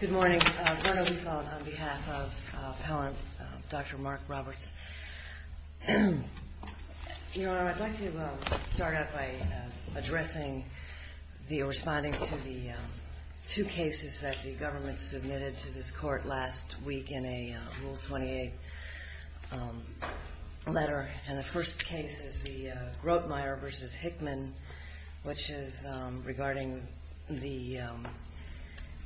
Good morning. Verna Liefeld on behalf of Dr. Mark Roberts. Your Honor, I'd like to start out by addressing the or responding to the two cases that the government submitted to this court last week in a Rule 28 letter. And the first case is the Grotemeyer v. Hickman, which is regarding the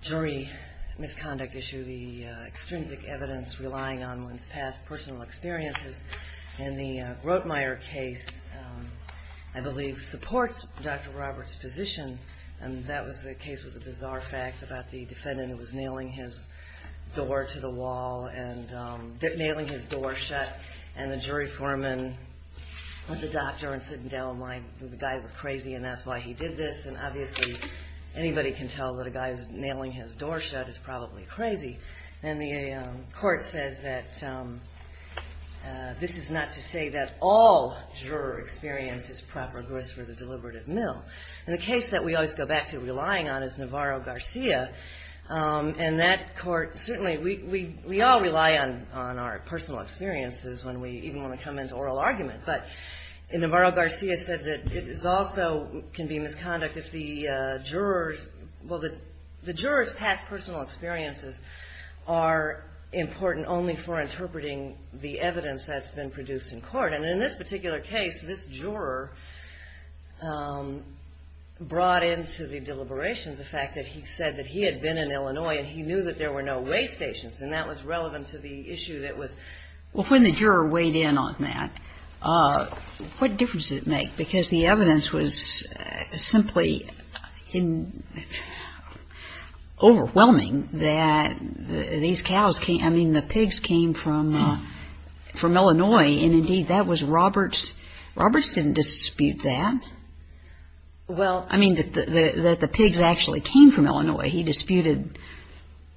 jury misconduct issue, the extrinsic evidence relying on one's past personal experiences. And the Grotemeyer case, I believe, supports Dr. Roberts' position, and that was the case with the bizarre facts about the defendant who was nailing his door to the wall and nailing his door shut. And the jury foreman was a doctor and sitting down, and the guy was crazy, and that's why he did this. And obviously, anybody can tell that a guy who's nailing his door shut is probably crazy. And the court says that this is not to say that all juror experience is proper grist for the deliberative mill. And the case that we always go back to relying on is Navarro-Garcia, and that court certainly, we all rely on our personal experiences when we even want to come into oral argument. But Navarro-Garcia said that it is also can be misconduct if the jurors, well, the jurors' past personal experiences are important only for interpreting the evidence that's been produced in court. And in this particular case, this juror brought into the deliberations the fact that he said that he had been in Illinois, and he knew that there were no way stations, and that was relevant to the issue that was. Well, when the juror weighed in on that, what difference did it make? Because the evidence was simply overwhelming that these cows came, I mean, the pigs came from Illinois, and indeed, that was Roberts. Roberts didn't dispute that. Well, I mean, that the pigs actually came from Illinois. He disputed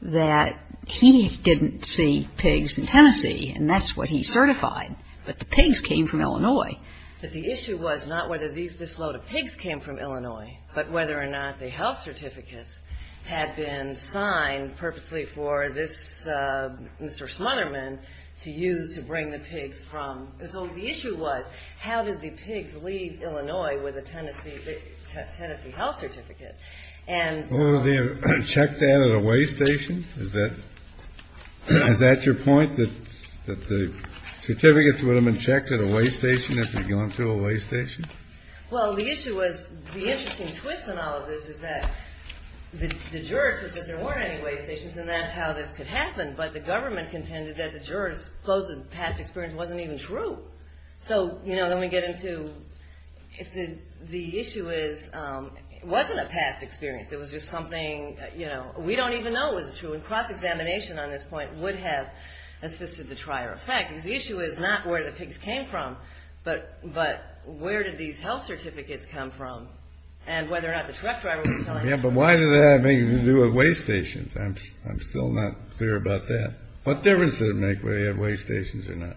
that he didn't see pigs in Tennessee, and that's what he certified. But the pigs came from Illinois. But the issue was not whether this load of pigs came from Illinois, but whether or not the health certificates had been signed purposely for this Mr. Smunderman to use to bring the pigs from. So the issue was, how did the pigs leave Illinois with a Tennessee health certificate? Well, would they have checked that at a way station? Is that your point, that the certificates would have been checked at a way station if they'd gone through a way station? Well, the issue was, the interesting twist in all of this is that the jurors said that there weren't any way stations, and that's how this could happen. But the government contended that the jurors' supposed past experience wasn't even true. So, you know, let me get into, the issue is, it wasn't a past experience. It was just something, you know, we don't even know is true. And cross-examination on this point would have assisted the trier effect. Because the issue is not where the pigs came from, but where did these health certificates come from, and whether or not the truck driver was telling the truth. Yeah, but why did that have anything to do with way stations? I'm still not clear about that. What difference did it make whether you had way stations or not?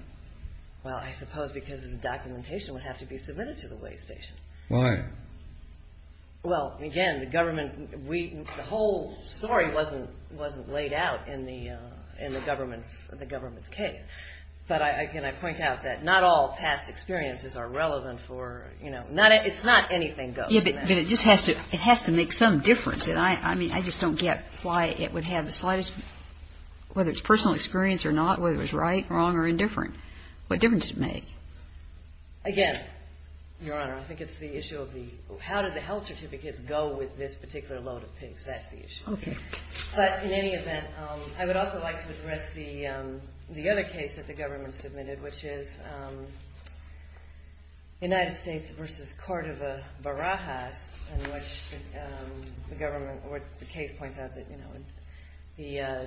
Well, I suppose because the documentation would have to be submitted to the way station. Why? Well, again, the government, the whole story wasn't laid out in the government's case. But again, I point out that not all past experiences are relevant for, you know, it's not anything goes. Yeah, but it just has to, it has to make some difference. I mean, I just don't get why it would have the slightest, whether it's personal experience or not, whether it was right, wrong, or indifferent. What difference does it make? Again, Your Honor, I think it's the issue of the, how did the health certificates go with this particular load of pigs? That's the issue. Okay. But in any event, I would also like to address the other case that the government submitted, which is United States versus Cordova Barajas, in which the government, where the case points out that, you know,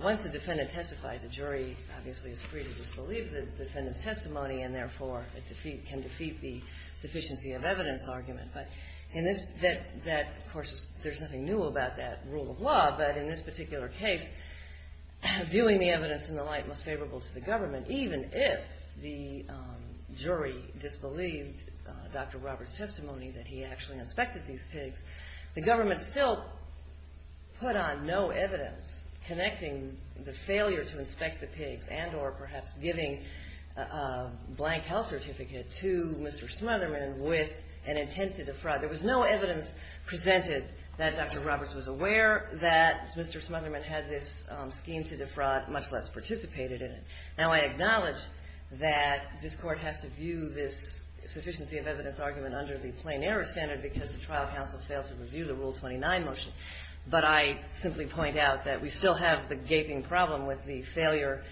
once the defendant testifies, the jury obviously is free to disbelieve the defendant's testimony and therefore can defeat the sufficiency of evidence argument. But in this, that, of course, there's nothing new about that rule of law, but in this particular case, viewing the evidence in the light most favorable to the government, even if the jury disbelieved Dr. Roberts' testimony that he actually inspected these pigs, the government still put on no evidence connecting the failure to inspect the pigs and or perhaps giving a blank health certificate to Mr. Smotherman with an intent to defraud. There was no evidence presented that Dr. Roberts was aware that Mr. Smotherman had this scheme to defraud, much less participated in it. Now, I acknowledge that this Court has to view this sufficiency of evidence argument under the plain error standard because the trial counsel failed to review the Rule 29 motion, but I simply point out that we still have the gaping problem with the failure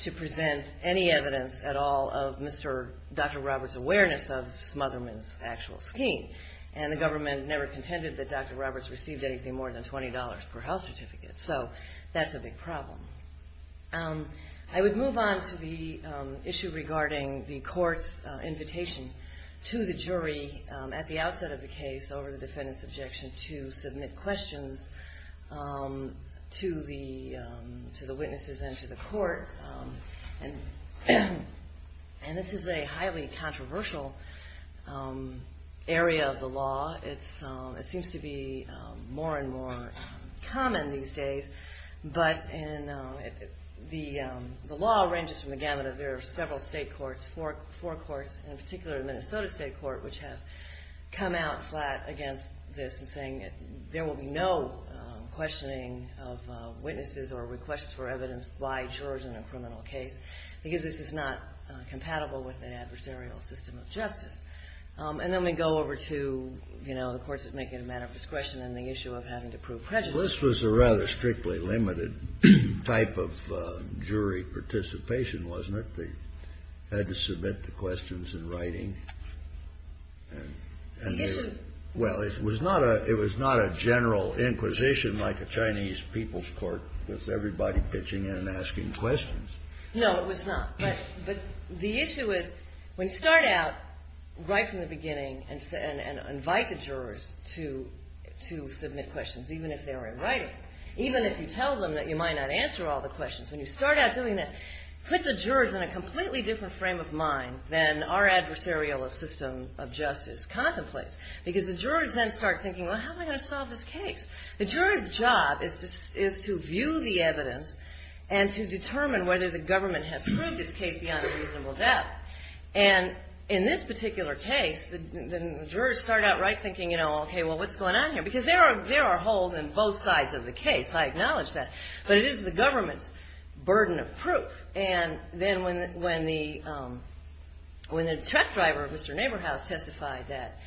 to present any evidence at all of Mr. Dr. Roberts' awareness of Smotherman's actual scheme. And the government never contended that Dr. Roberts received anything more than $20 per health certificate, so that's a big problem. I would move on to the issue regarding the Court's invitation to the jury at the outset of the case over the defendant's objection to submit questions to the witnesses and to the Court, and this is a highly controversial area of the law. It seems to be more and more common these days, but the law ranges from the gamut of there are several state courts, four courts, and in particular the Minnesota State Court, which have come out flat against this and saying there will be no questioning of witnesses or requests for evidence by jurors in a criminal case because this is not compatible with an adversarial system of justice. And then we go over to, you know, the courts that make it a matter of discretion and the issue of having to prove prejudice. This was a rather strictly limited type of jury participation, wasn't it? They had to submit the questions in writing. Well, it was not a general inquisition like a Chinese people's court with everybody pitching in and asking questions. No, it was not. But the issue is when you start out right from the beginning and invite the jurors to submit questions, even if they were in writing, even if you tell them that you might not answer all the questions, when you start out doing that, put the jurors in a completely different frame of mind than our adversarial system of justice contemplates, because the jurors then start thinking, well, how am I going to solve this case? The juror's job is to view the evidence and to determine whether the government has proved its case beyond a reasonable doubt. And in this particular case, the jurors start out right thinking, you know, okay, well, what's going on here? Because there are holes in both sides of the case. I acknowledge that. And then when the truck driver, Mr. Neighborhouse, testified that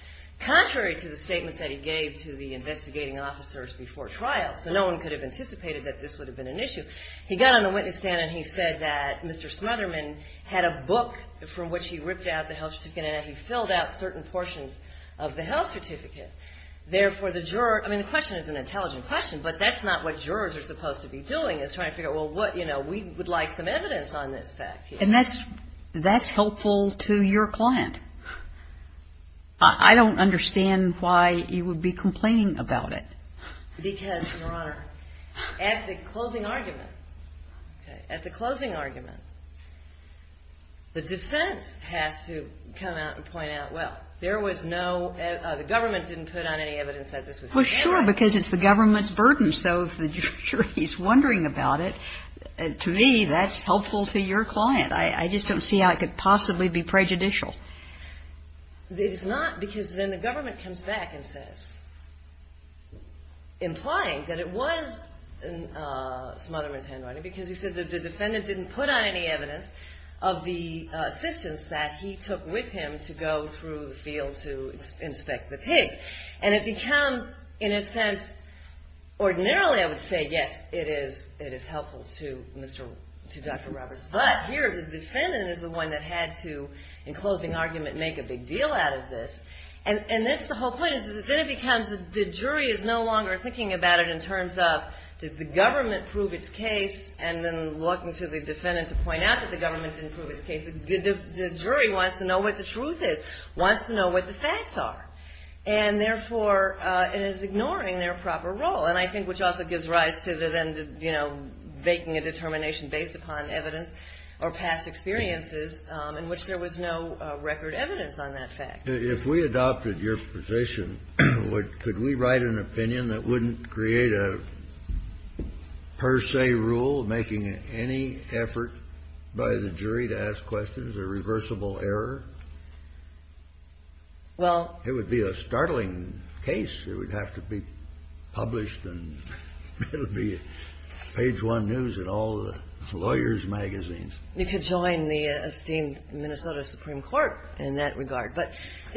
contrary to the statements that he gave to the investigating officers before trial, so no one could have anticipated that this would have been an issue, he got on the witness stand and he said that Mr. Smotherman had a book from which he ripped out the health certificate and that he filled out certain portions of the health certificate. Therefore, the juror – I mean, the question is an intelligent question, but that's not what jurors are supposed to be doing, is trying to figure out, well, what, you know, we would like some evidence on this fact here. And that's helpful to your client. I don't understand why you would be complaining about it. Because, Your Honor, at the closing argument, okay, at the closing argument, the defense has to come out and point out, well, there was no – the government didn't put on any evidence that this was an issue. Well, sure, because it's the government's burden. So if the jury is wondering about it, to me, that's helpful to your client. I just don't see how it could possibly be prejudicial. It's not, because then the government comes back and says – implying that it was Smotherman's handwriting, because he said the defendant didn't put on any evidence of the assistance that he took with him to go through the field to inspect the pigs. And it becomes, in a sense, ordinarily I would say, yes, it is helpful to Mr. – to Dr. Roberts. But here the defendant is the one that had to, in closing argument, make a big deal out of this. And that's the whole point. Then it becomes the jury is no longer thinking about it in terms of did the government prove its case and then look to the defendant to point out that the government didn't prove its case. The jury wants to know what the truth is, wants to know what the facts are. And therefore, it is ignoring their proper role. And I think which also gives rise to the then, you know, making a determination based upon evidence or past experiences in which there was no record evidence on that fact. If we adopted your position, could we write an opinion that wouldn't create a per se rule, making any effort by the jury to ask questions a reversible error? It would be a startling case. It would have to be published and it would be page one news in all the lawyers' magazines. You could join the esteemed Minnesota Supreme Court in that regard. But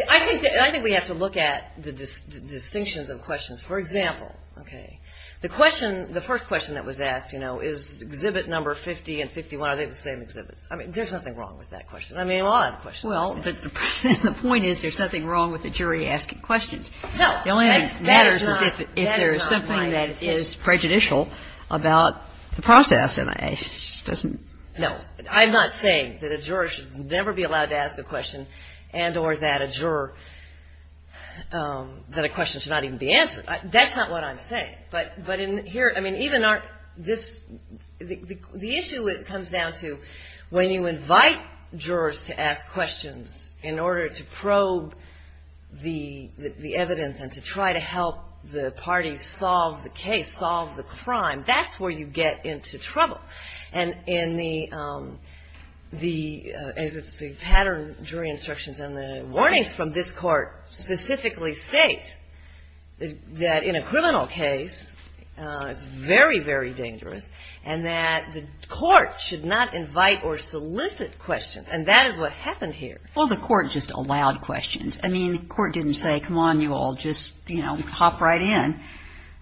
I think we have to look at the distinctions of questions. For example, okay, the question – the first question that was asked, you know, is exhibit number 50 and 51, are they the same exhibits? I mean, there's nothing wrong with that question. I mean, we all have questions. Well, the point is there's something wrong with the jury asking questions. No. The only thing that matters is if there's something that is prejudicial about the process. And I just don't know. I'm not saying that a juror should never be allowed to ask a question and or that a juror – that a question should not even be answered. That's not what I'm saying. But in here – I mean, even this – the issue comes down to when you invite jurors to ask questions in order to probe the evidence and to try to help the parties solve the case, solve the crime, that's where you get into trouble. And in the – the pattern jury instructions and the warnings from this Court specifically state that in a criminal case, it's very, very dangerous, and that the court should not invite or solicit questions. And that is what happened here. Well, the Court just allowed questions. I mean, the Court didn't say, come on, you all, just, you know, hop right in.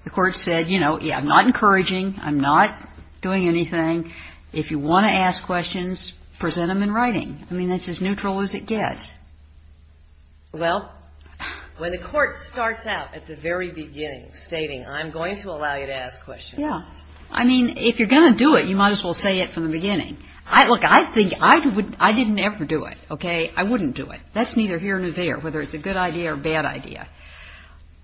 The Court said, you know, yeah, I'm not encouraging, I'm not doing anything. If you want to ask questions, present them in writing. I mean, that's as neutral as it gets. Well, when the Court starts out at the very beginning stating, I'm going to allow you to ask questions. Yeah. I mean, if you're going to do it, you might as well say it from the beginning. Look, I think – I didn't ever do it, okay? I wouldn't do it. That's neither here nor there, whether it's a good idea or a bad idea.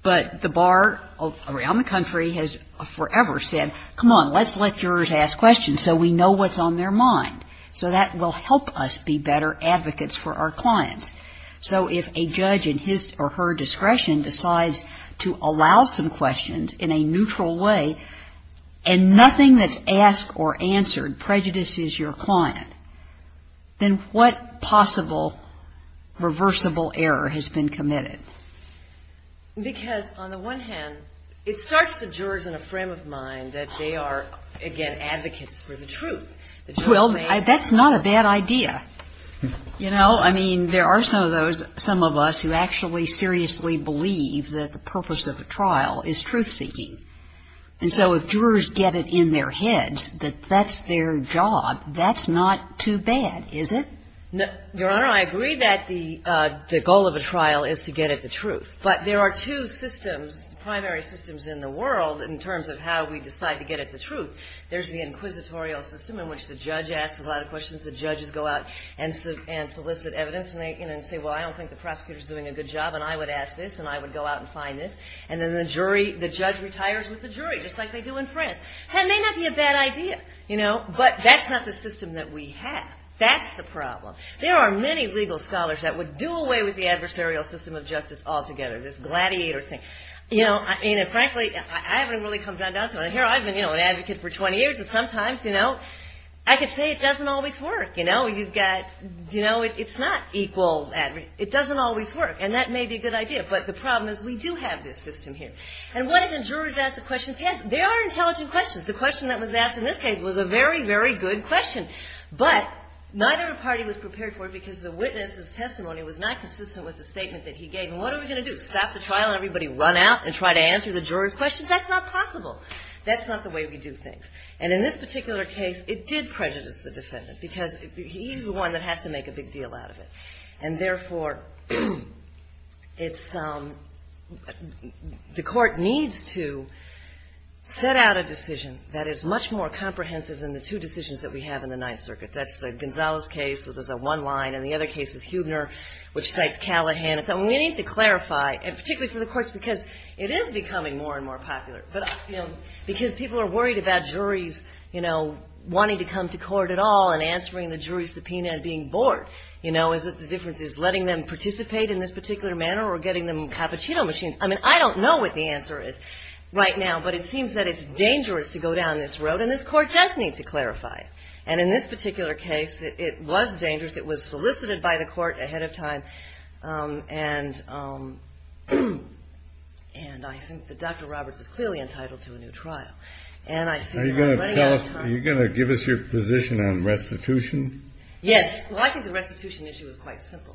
But the bar around the country has forever said, come on, let's let jurors ask questions so we know what's on their mind. So that will help us be better advocates for our clients. So if a judge in his or her discretion decides to allow some questions in a neutral way and nothing that's asked or answered prejudices your client, then what possible reversible error has been committed? Because on the one hand, it starts the jurors in a frame of mind that they are, again, advocates for the truth. Well, that's not a bad idea. You know, I mean, there are some of us who actually seriously believe that the purpose of a trial is truth-seeking. And so if jurors get it in their heads that that's their job, that's not too bad, is it? Your Honor, I agree that the goal of a trial is to get at the truth. But there are two systems, primary systems in the world in terms of how we decide to get at the truth. There's the inquisitorial system in which the judge asks a lot of questions. The judges go out and solicit evidence, and they say, well, I don't think the prosecutor is doing a good job, and I would ask this, and I would go out and find this. And then the jury, the judge retires with the jury, just like they do in France. That may not be a bad idea, you know, but that's not the system that we have. That's the problem. There are many legal scholars that would do away with the adversarial system of justice altogether, this gladiator thing. You know, and frankly, I haven't really come down to it. Here I've been, you know, an advocate for 20 years, and sometimes, you know, I could say it doesn't always work. You know, you've got, you know, it's not equal, it doesn't always work, and that may be a good idea. But the problem is we do have this system here. And what if the jurors ask the questions? Yes, there are intelligent questions. The question that was asked in this case was a very, very good question. But neither party was prepared for it because the witness's testimony was not consistent with the statement that he gave. And what are we going to do, stop the trial and everybody run out and try to answer the jurors' questions? That's not possible. That's not the way we do things. And in this particular case, it did prejudice the defendant because he's the one that has to make a big deal out of it. And, therefore, it's the court needs to set out a decision that is much more comprehensive than the two decisions that we have in the Ninth Circuit. That's the Gonzales case, so there's a one line, and the other case is Huebner, which cites Callahan. And so we need to clarify, and particularly for the courts, because it is becoming more and more popular. But, you know, because people are worried about juries, you know, wanting to come to court at all and answering the jury's subpoena and being bored. You know, is it the difference is letting them participate in this particular manner or getting them cappuccino machines? I mean, I don't know what the answer is right now, but it seems that it's dangerous to go down this road, and this court does need to clarify it. And in this particular case, it was dangerous. It was solicited by the court ahead of time, and I think that Dr. Roberts is clearly entitled to a new trial. And I see her running out of time. Are you going to give us your position on restitution? Yes. Well, I think the restitution issue is quite simple.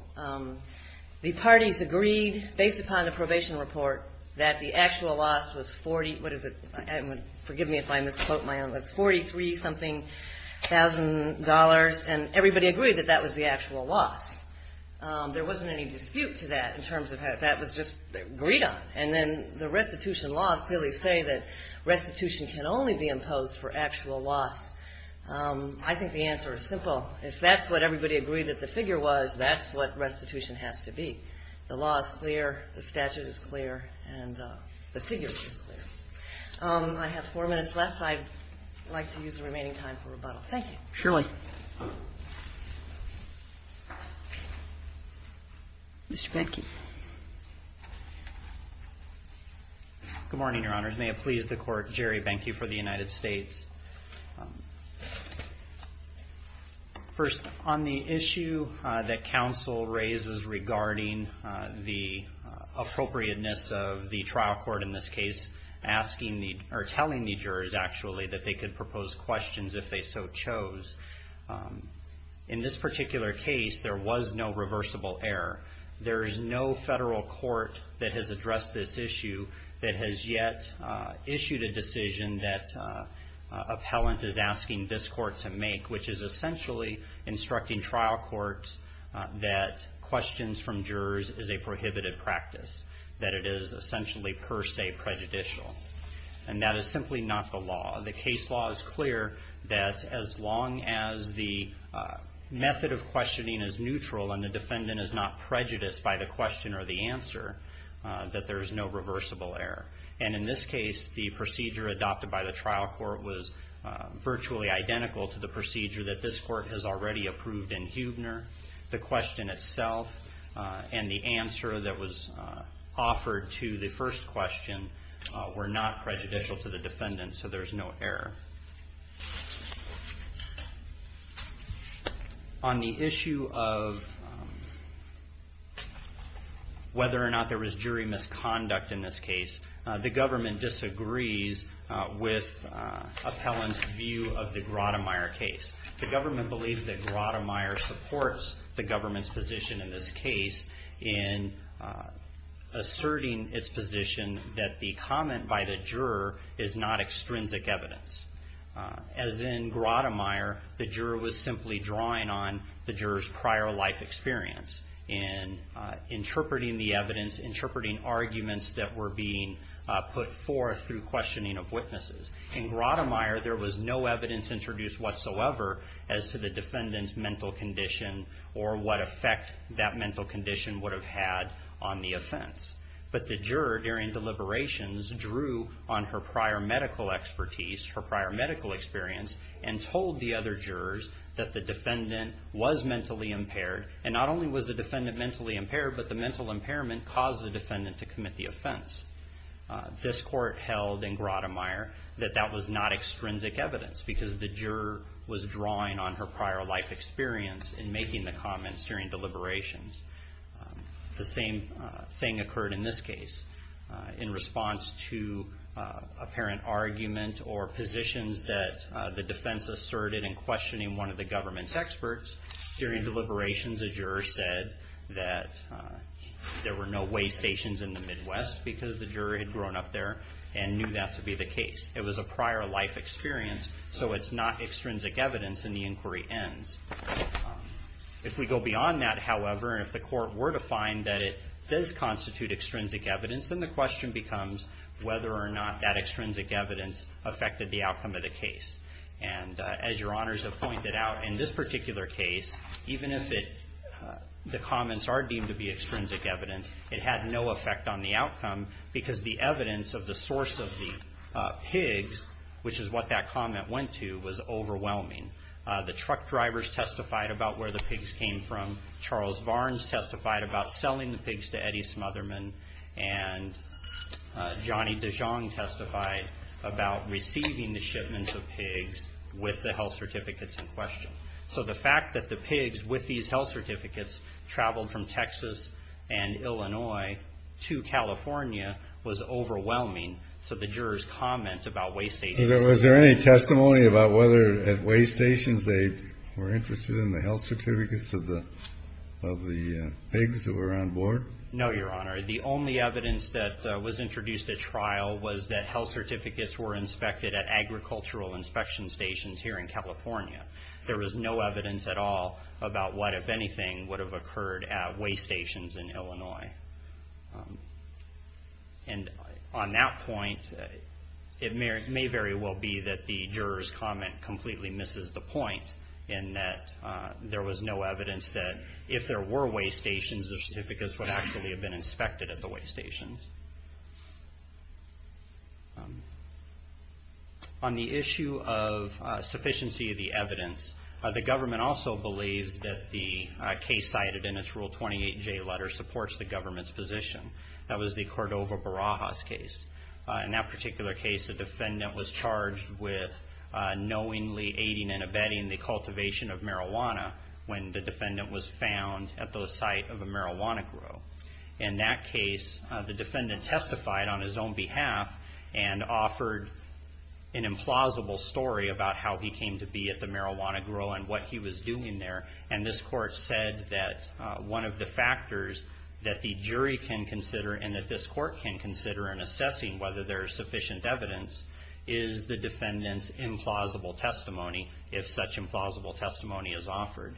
The parties agreed, based upon the probation report, that the actual loss was 40, what is it? Forgive me if I misquote my own. It's 43-something thousand dollars, and everybody agreed that that was the actual loss. There wasn't any dispute to that in terms of how that was just agreed on. And then the restitution laws clearly say that restitution can only be imposed for actual loss. I think the answer is simple. If that's what everybody agreed that the figure was, that's what restitution has to be. The law is clear, the statute is clear, and the figure is clear. I have four minutes left. I'd like to use the remaining time for rebuttal. Thank you. Shirley. Mr. Behnke. Good morning, Your Honors. May it please the Court, Jerry Behnke for the United States. First, on the issue that counsel raises regarding the appropriateness of the trial court in this case, or telling the jurors, actually, that they could propose questions if they so chose. In this particular case, there was no reversible error. There is no federal court that has addressed this issue that has yet issued a decision that appellant is asking this court to make, which is essentially instructing trial courts that questions from jurors is a prohibited practice, that it is essentially per se prejudicial. That is simply not the law. The case law is clear that as long as the method of questioning is neutral and the defendant is not prejudiced by the question or the answer, that there is no reversible error. In this case, the procedure adopted by the trial court was virtually identical to the procedure that this court has already approved in Huebner. The question itself and the answer that was offered to the first question were not prejudicial to the defendant, so there is no error. On the issue of whether or not there was jury misconduct in this case, the government disagrees with appellant's view of the Grottemeyer case. The government believes that Grottemeyer supports the government's position in this case in asserting its position that the comment by the juror is not extrinsic evidence. As in Grottemeyer, the juror was simply drawing on the juror's prior life experience in interpreting the evidence, interpreting arguments that were being put forth through questioning of witnesses. In Grottemeyer, there was no evidence introduced whatsoever as to the defendant's mental condition or what effect that mental condition would have had on the offense. But the juror, during deliberations, drew on her prior medical expertise, her prior medical experience, and told the other jurors that the defendant was mentally impaired. And not only was the defendant mentally impaired, this court held in Grottemeyer that that was not extrinsic evidence because the juror was drawing on her prior life experience in making the comments during deliberations. The same thing occurred in this case. In response to apparent argument or positions that the defense asserted in questioning one of the government's experts, during deliberations, the juror said that there were no weigh stations in the Midwest because the juror had grown up there and knew that to be the case. It was a prior life experience, so it's not extrinsic evidence, and the inquiry ends. If we go beyond that, however, and if the court were to find that it does constitute extrinsic evidence, then the question becomes whether or not that extrinsic evidence affected the outcome of the case. And as Your Honors have pointed out, in this particular case, even if the comments are deemed to be extrinsic evidence, it had no effect on the outcome because the evidence of the source of the pigs, which is what that comment went to, was overwhelming. The truck drivers testified about where the pigs came from. Charles Varnes testified about selling the pigs to Eddie Smotherman. And Johnny DeJong testified about receiving the shipments of pigs with the health certificates in question. So the fact that the pigs with these health certificates traveled from Texas and Illinois to California was overwhelming. So the jurors' comments about weigh stations. Was there any testimony about whether at weigh stations they were interested in the health certificates of the pigs that were on board? No, Your Honor. The only evidence that was introduced at trial was that health certificates were inspected at agricultural inspection stations here in California. There was no evidence at all about what, if anything, would have occurred at weigh stations in Illinois. And on that point, it may very well be that the jurors' comment completely misses the point in that there was no evidence that if there were weigh stations, the certificates would actually have been inspected at the weigh stations. On the issue of sufficiency of the evidence, the government also believes that the case cited in its Rule 28J letter supports the government's position. That was the Cordova-Barajas case. In that particular case, the defendant was charged with knowingly aiding and abetting the cultivation of marijuana when the defendant was found at the site of a marijuana grow. In that case, the defendant testified on his own behalf and offered an implausible story about how he came to be at the marijuana grow and what he was doing there. And this court said that one of the factors that the jury can consider and that this court can consider in assessing whether there is sufficient evidence is the defendant's implausible testimony, if such implausible testimony is offered.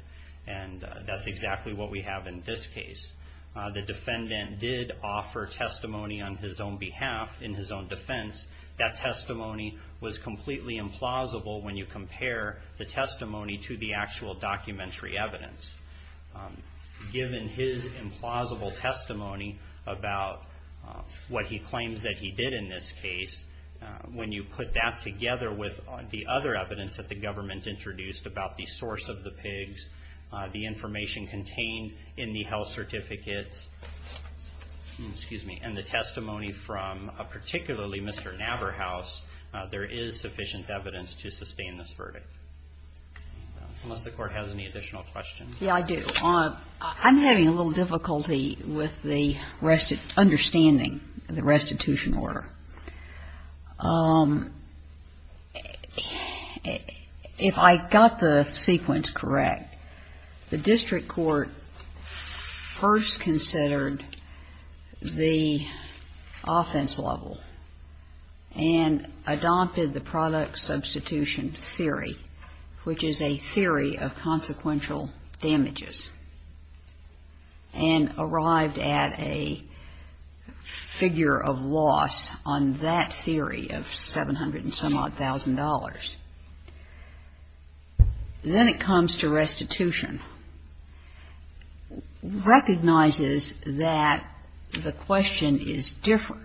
And that's exactly what we have in this case. The defendant did offer testimony on his own behalf in his own defense. That testimony was completely implausible when you compare the testimony to the actual documentary evidence. Given his implausible testimony about what he claims that he did in this case, when you put that together with the other evidence that the government introduced about the source of the pigs, the information contained in the health certificates, excuse me, and the testimony from particularly Mr. Naberhaus, there is sufficient evidence to sustain this verdict. Unless the court has any additional questions. Yeah, I do. I'm having a little difficulty with the understanding of the restitution order. If I got the sequence correct, the district court first considered the offense level and adopted the product substitution theory, which is a theory of consequential damages, and arrived at a figure of loss on that theory of 700 and some odd thousand dollars. Then it comes to restitution, recognizes that the question is different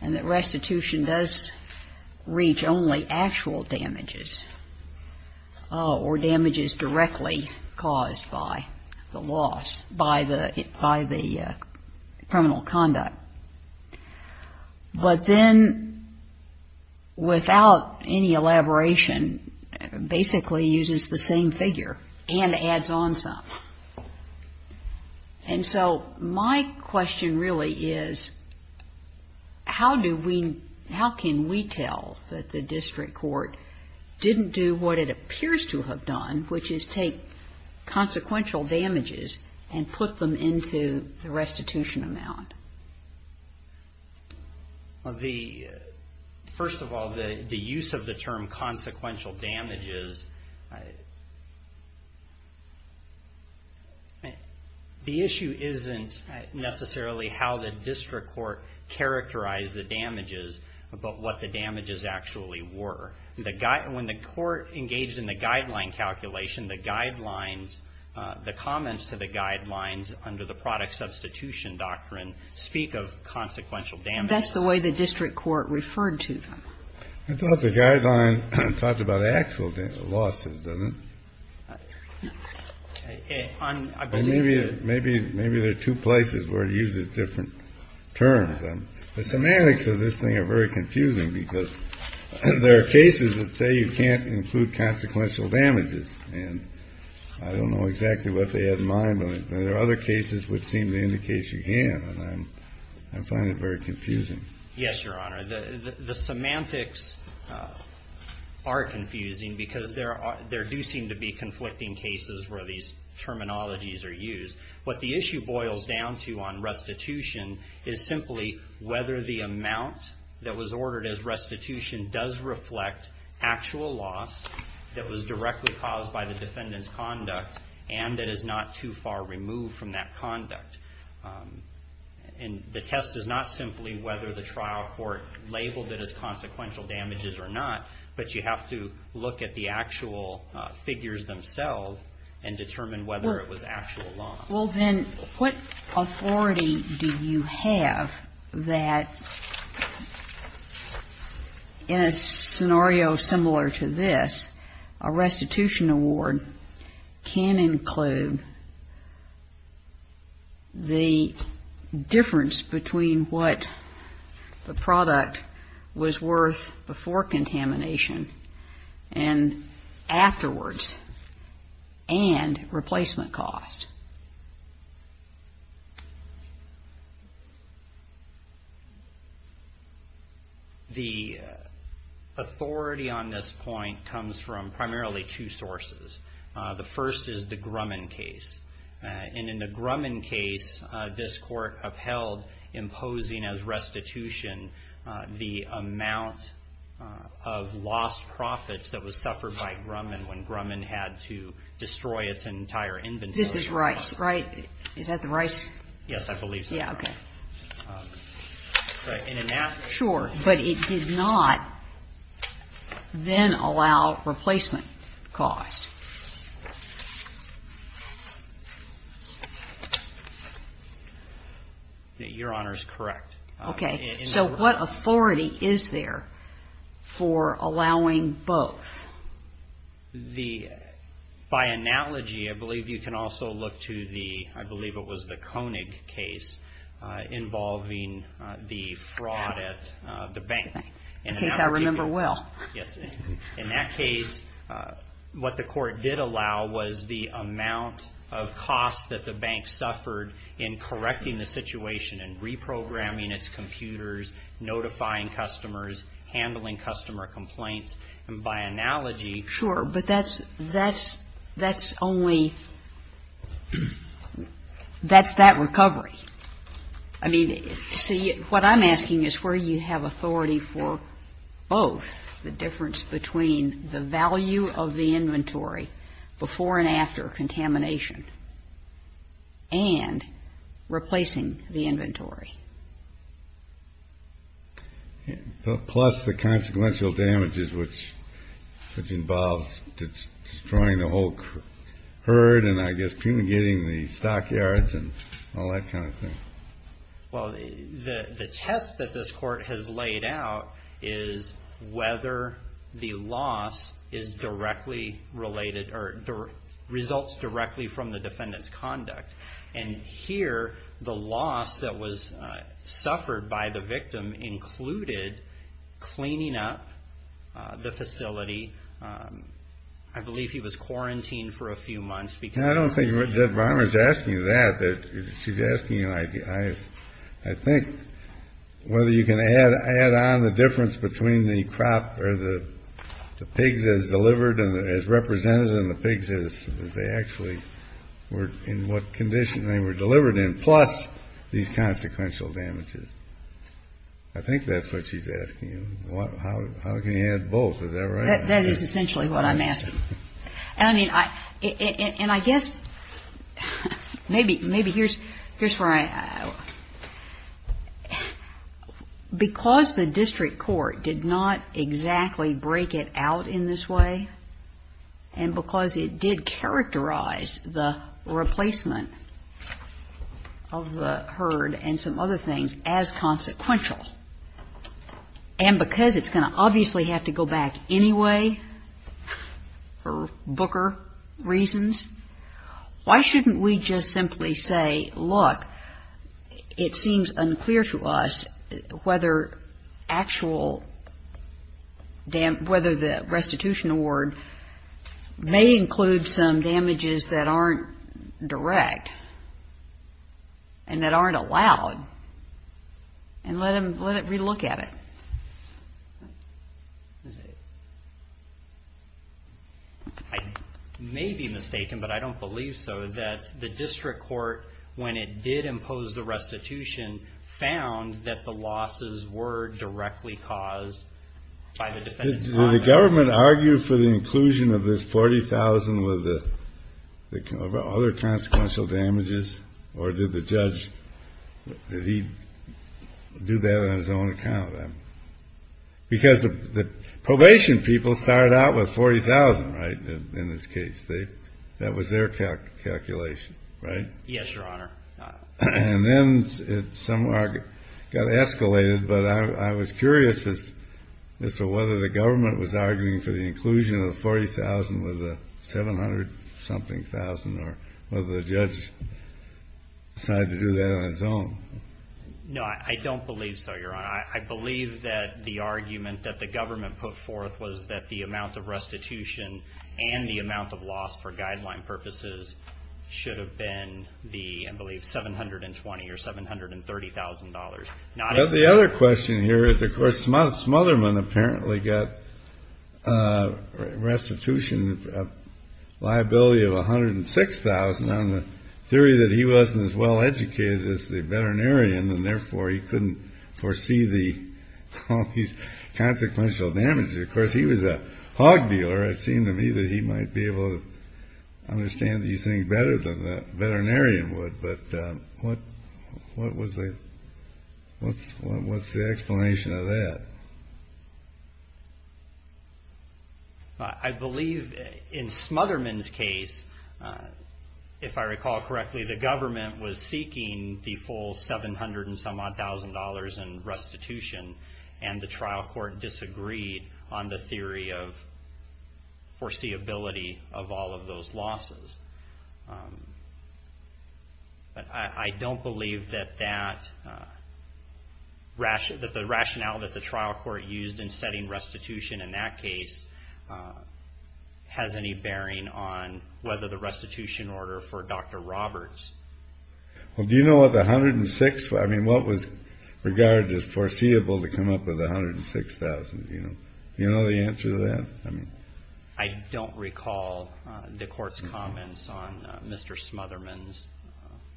and that restitution does reach only actual damages or damages directly caused by the loss, by the criminal conduct. But then without any elaboration, basically uses the same figure and adds on some. And so my question really is how do we, how can we tell that the district court didn't do what it appears to have done, which is take consequential damages and put them into the restitution amount? First of all, the use of the term consequential damages, the issue isn't necessarily how the district court characterized the damages, but what the damages actually were. When the court engaged in the guideline calculation, the guidelines, the comments to the guidelines under the product substitution doctrine speak of consequential damages. That's the way the district court referred to them. I thought the guideline talked about actual losses, doesn't it? Maybe there are two places where it uses different terms. The semantics of this thing are very confusing because there are cases that say you can't include consequential damages, and I don't know exactly what they had in mind. But there are other cases which seem to indicate you can, and I find it very confusing. Yes, Your Honor. The semantics are confusing because there do seem to be conflicting cases where these terminologies are used. What the issue boils down to on restitution is simply whether the amount that was ordered as restitution does reflect actual loss that was directly caused by the defendant's conduct and that is not too far removed from that conduct. And the test is not simply whether the trial court labeled it as consequential damages or not, but you have to look at the actual figures themselves and determine whether it was actual loss. Well, then, what authority do you have that in a scenario similar to this, a restitution award can include the difference between what the product was worth before contamination and afterwards and replacement cost? The authority on this point comes from primarily two sources. The first is the Grumman case, and in the Grumman case, this Court upheld imposing as restitution the amount of lost profits that was suffered by Grumman when Grumman had to destroy its entire inventory. This is Rice, right? Is that the Rice? Yes, I believe so. Sure, but it did not then allow replacement cost. Your Honor is correct. Okay. So what authority is there for allowing both? By analogy, I believe you can also look to the, I believe it was the Koenig case involving the fraud at the bank. The case I remember well. Yes. In that case, what the Court did allow was the amount of cost that the bank suffered in correcting the situation, in reprogramming its computers, notifying customers, handling customer complaints, and by analogy. Sure, but that's only, that's that recovery. I mean, see, what I'm asking is where you have authority for both, the difference between the value of the inventory before and after contamination and replacing the inventory. Plus the consequential damages, which involves destroying the whole herd and I guess fumigating the stockyards and all that kind of thing. Well, the test that this Court has laid out is whether the loss is directly related or results directly from the defendant's conduct. And here, the loss that was suffered by the victim included cleaning up the facility. I believe he was quarantined for a few months. I think whether you can add on the difference between the crop or the pigs as delivered and as represented in the pigs as they actually were in what condition they were delivered in, plus these consequential damages. I think that's what she's asking you. How can you add both? Is that right? That is essentially what I'm asking. And I mean, I guess maybe here's where I, because the district court did not exactly break it out in this way and because it did characterize the replacement of the herd and some other things as consequential. And because it's going to obviously have to go back anyway for Booker reasons, why shouldn't we just simply say, look, it seems unclear to us whether actual, whether the restitution award may include some damages that aren't direct and that aren't allowed, and let it relook at it? I may be mistaken, but I don't believe so, that the district court, when it did impose the restitution, found that the losses were directly caused by the defendant's conduct. Did the government argue for the inclusion of this $40,000 with other consequential damages? Or did the judge, did he do that on his own account? Because the probation people started out with $40,000, right, in this case. That was their calculation, right? Yes, Your Honor. And then it somewhat got escalated, but I was curious as to whether the government was arguing for the inclusion of the $40,000 with the $700-something thousand, or whether the judge decided to do that on his own. No, I don't believe so, Your Honor. I believe that the argument that the government put forth was that the amount of restitution and the amount of loss for guideline purposes should have been the, I believe, $720,000 or $730,000. Now, the other question here is, of course, Smotherman apparently got restitution liability of $106,000, on the theory that he wasn't as well educated as the veterinarian, and therefore he couldn't foresee all these consequential damages. Of course, he was a hog dealer. It seemed to me that he might be able to understand these things better than the veterinarian would, but what's the explanation of that? I believe in Smotherman's case, if I recall correctly, the government was seeking the full $700-some-odd thousand in restitution, and the trial court disagreed on the theory of foreseeability of all of those losses, but I don't believe that the rationale that the trial court used in setting restitution in that case has any bearing on whether the restitution order for Dr. Roberts... Well, do you know what the $106,000... I mean, what was regarded as foreseeable to come up with $106,000? Do you know the answer to that? I don't recall the court's comments on Mr. Smotherman's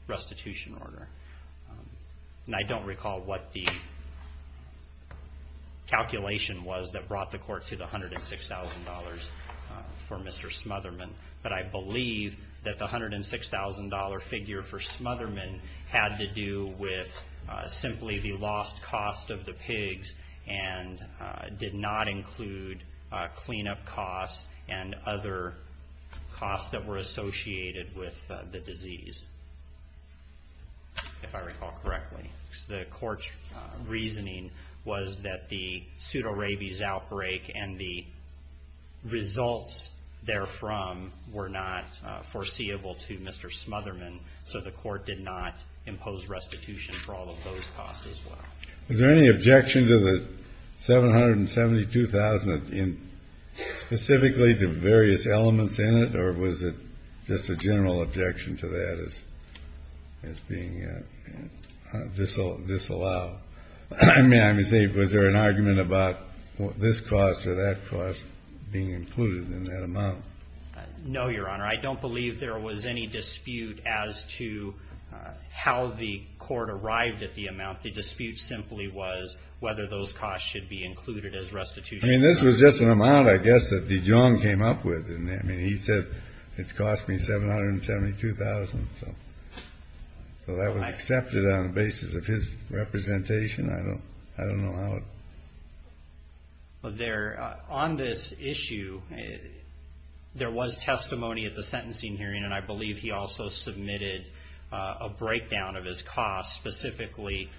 restitution order, and I don't recall what the calculation was that brought the court to the $106,000 for Mr. Smotherman, but I believe that the $106,000 figure for Smotherman had to do with simply the lost cost of the pigs and did not include cleanup costs and other costs that were associated with the disease, if I recall correctly. The court's reasoning was that the pseudorabies outbreak and the $106,000, so the court did not impose restitution for all of those costs as well. Is there any objection to the $772,000 specifically to various elements in it, or was it just a general objection to that as being disallowed? I mean, was there an argument about this cost or that cost being disallowed as to how the court arrived at the amount? The dispute simply was whether those costs should be included as restitution. I mean, this was just an amount, I guess, that Dijon came up with. I mean, he said it's cost me $772,000, so that was accepted on the basis of his representation. I don't know how it... On this issue, there was testimony at the sentencing hearing, and I believe he also submitted a breakdown of his costs specifically,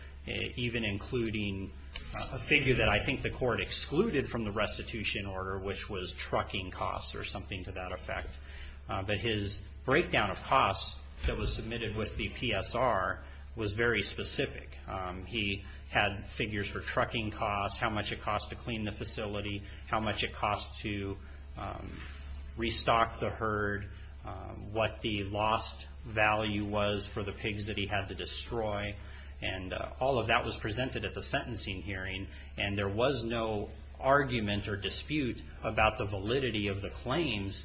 even including a figure that I think the court excluded from the restitution order, which was trucking costs or something to that effect. But his breakdown of costs that was submitted with the PSR was very specific. He had figures for trucking costs, how much it cost to clean the facility, how much it cost to restock the herd, what the lost value was for the pigs that he had to destroy, and all of that was presented at the sentencing hearing, and there was no argument or dispute about the validity of the claims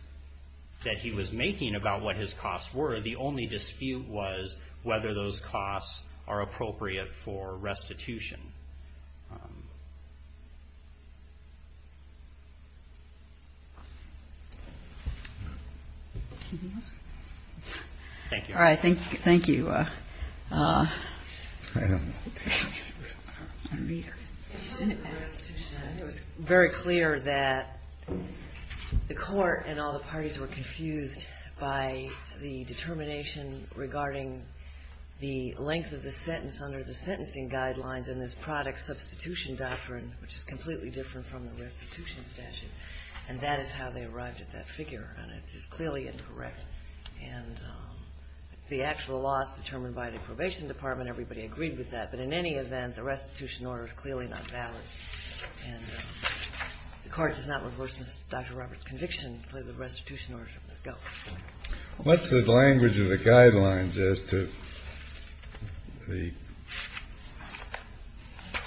that he was making about what his costs were. The only dispute was whether those costs are appropriate for restitution. Thank you. It was very clear that the court and all the parties were confused by the determination regarding the length of the sentence under the sentencing guidelines and this product substitution doctrine, which is completely different from the restitution statute, and that is how they arrived at that figure, and it is clearly incorrect. And the actual loss determined by the probation department, everybody agreed with that, but in any event, the restitution order is clearly not valid, and the court does not reverse Dr. Roberts' conviction to pay the restitution order from the scope. What's the language of the guidelines as to the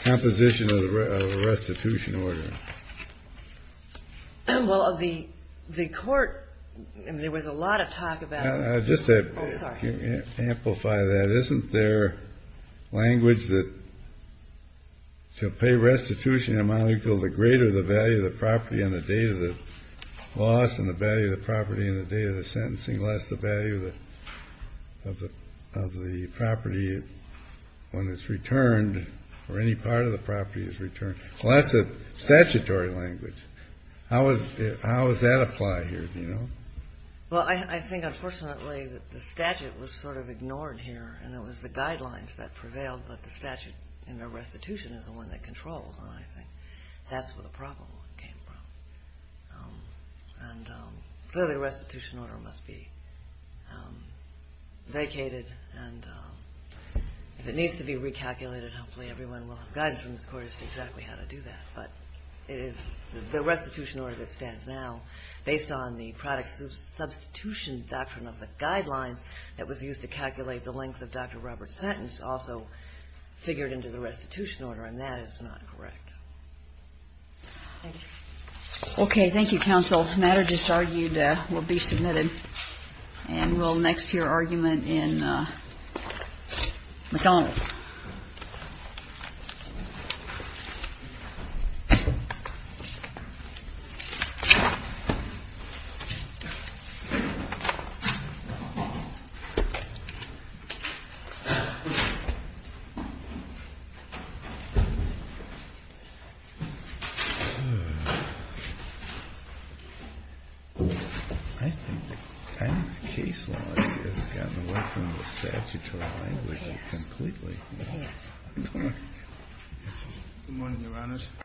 composition of the restitution order? Well, the court, I mean, there was a lot of talk about it. Just to amplify that, isn't there language that to pay restitution amount equal to greater the value of the property on the day of the loss and the value of the property on the day of the sentencing less the value of the property when it's returned or any part of the property is returned? Well, that's a statutory language. How does that apply here, do you know? Well, I think unfortunately that the statute was sort of out of control, and I think that's where the problem came from. And so the restitution order must be vacated, and if it needs to be recalculated, hopefully everyone will have guidance from this court as to exactly how to do that, but it is the restitution order that stands now based on the product substitution doctrine of the guidelines that was used to calculate the length of Dr. McConnell's sentence. And to make it clear, the restitution order should be violated. And that's not correct. Thank you. Okay. Thank you, counsel. Matter just argued will be submitted. And we'll next hear argument in McConnell. Thank you. Thank you.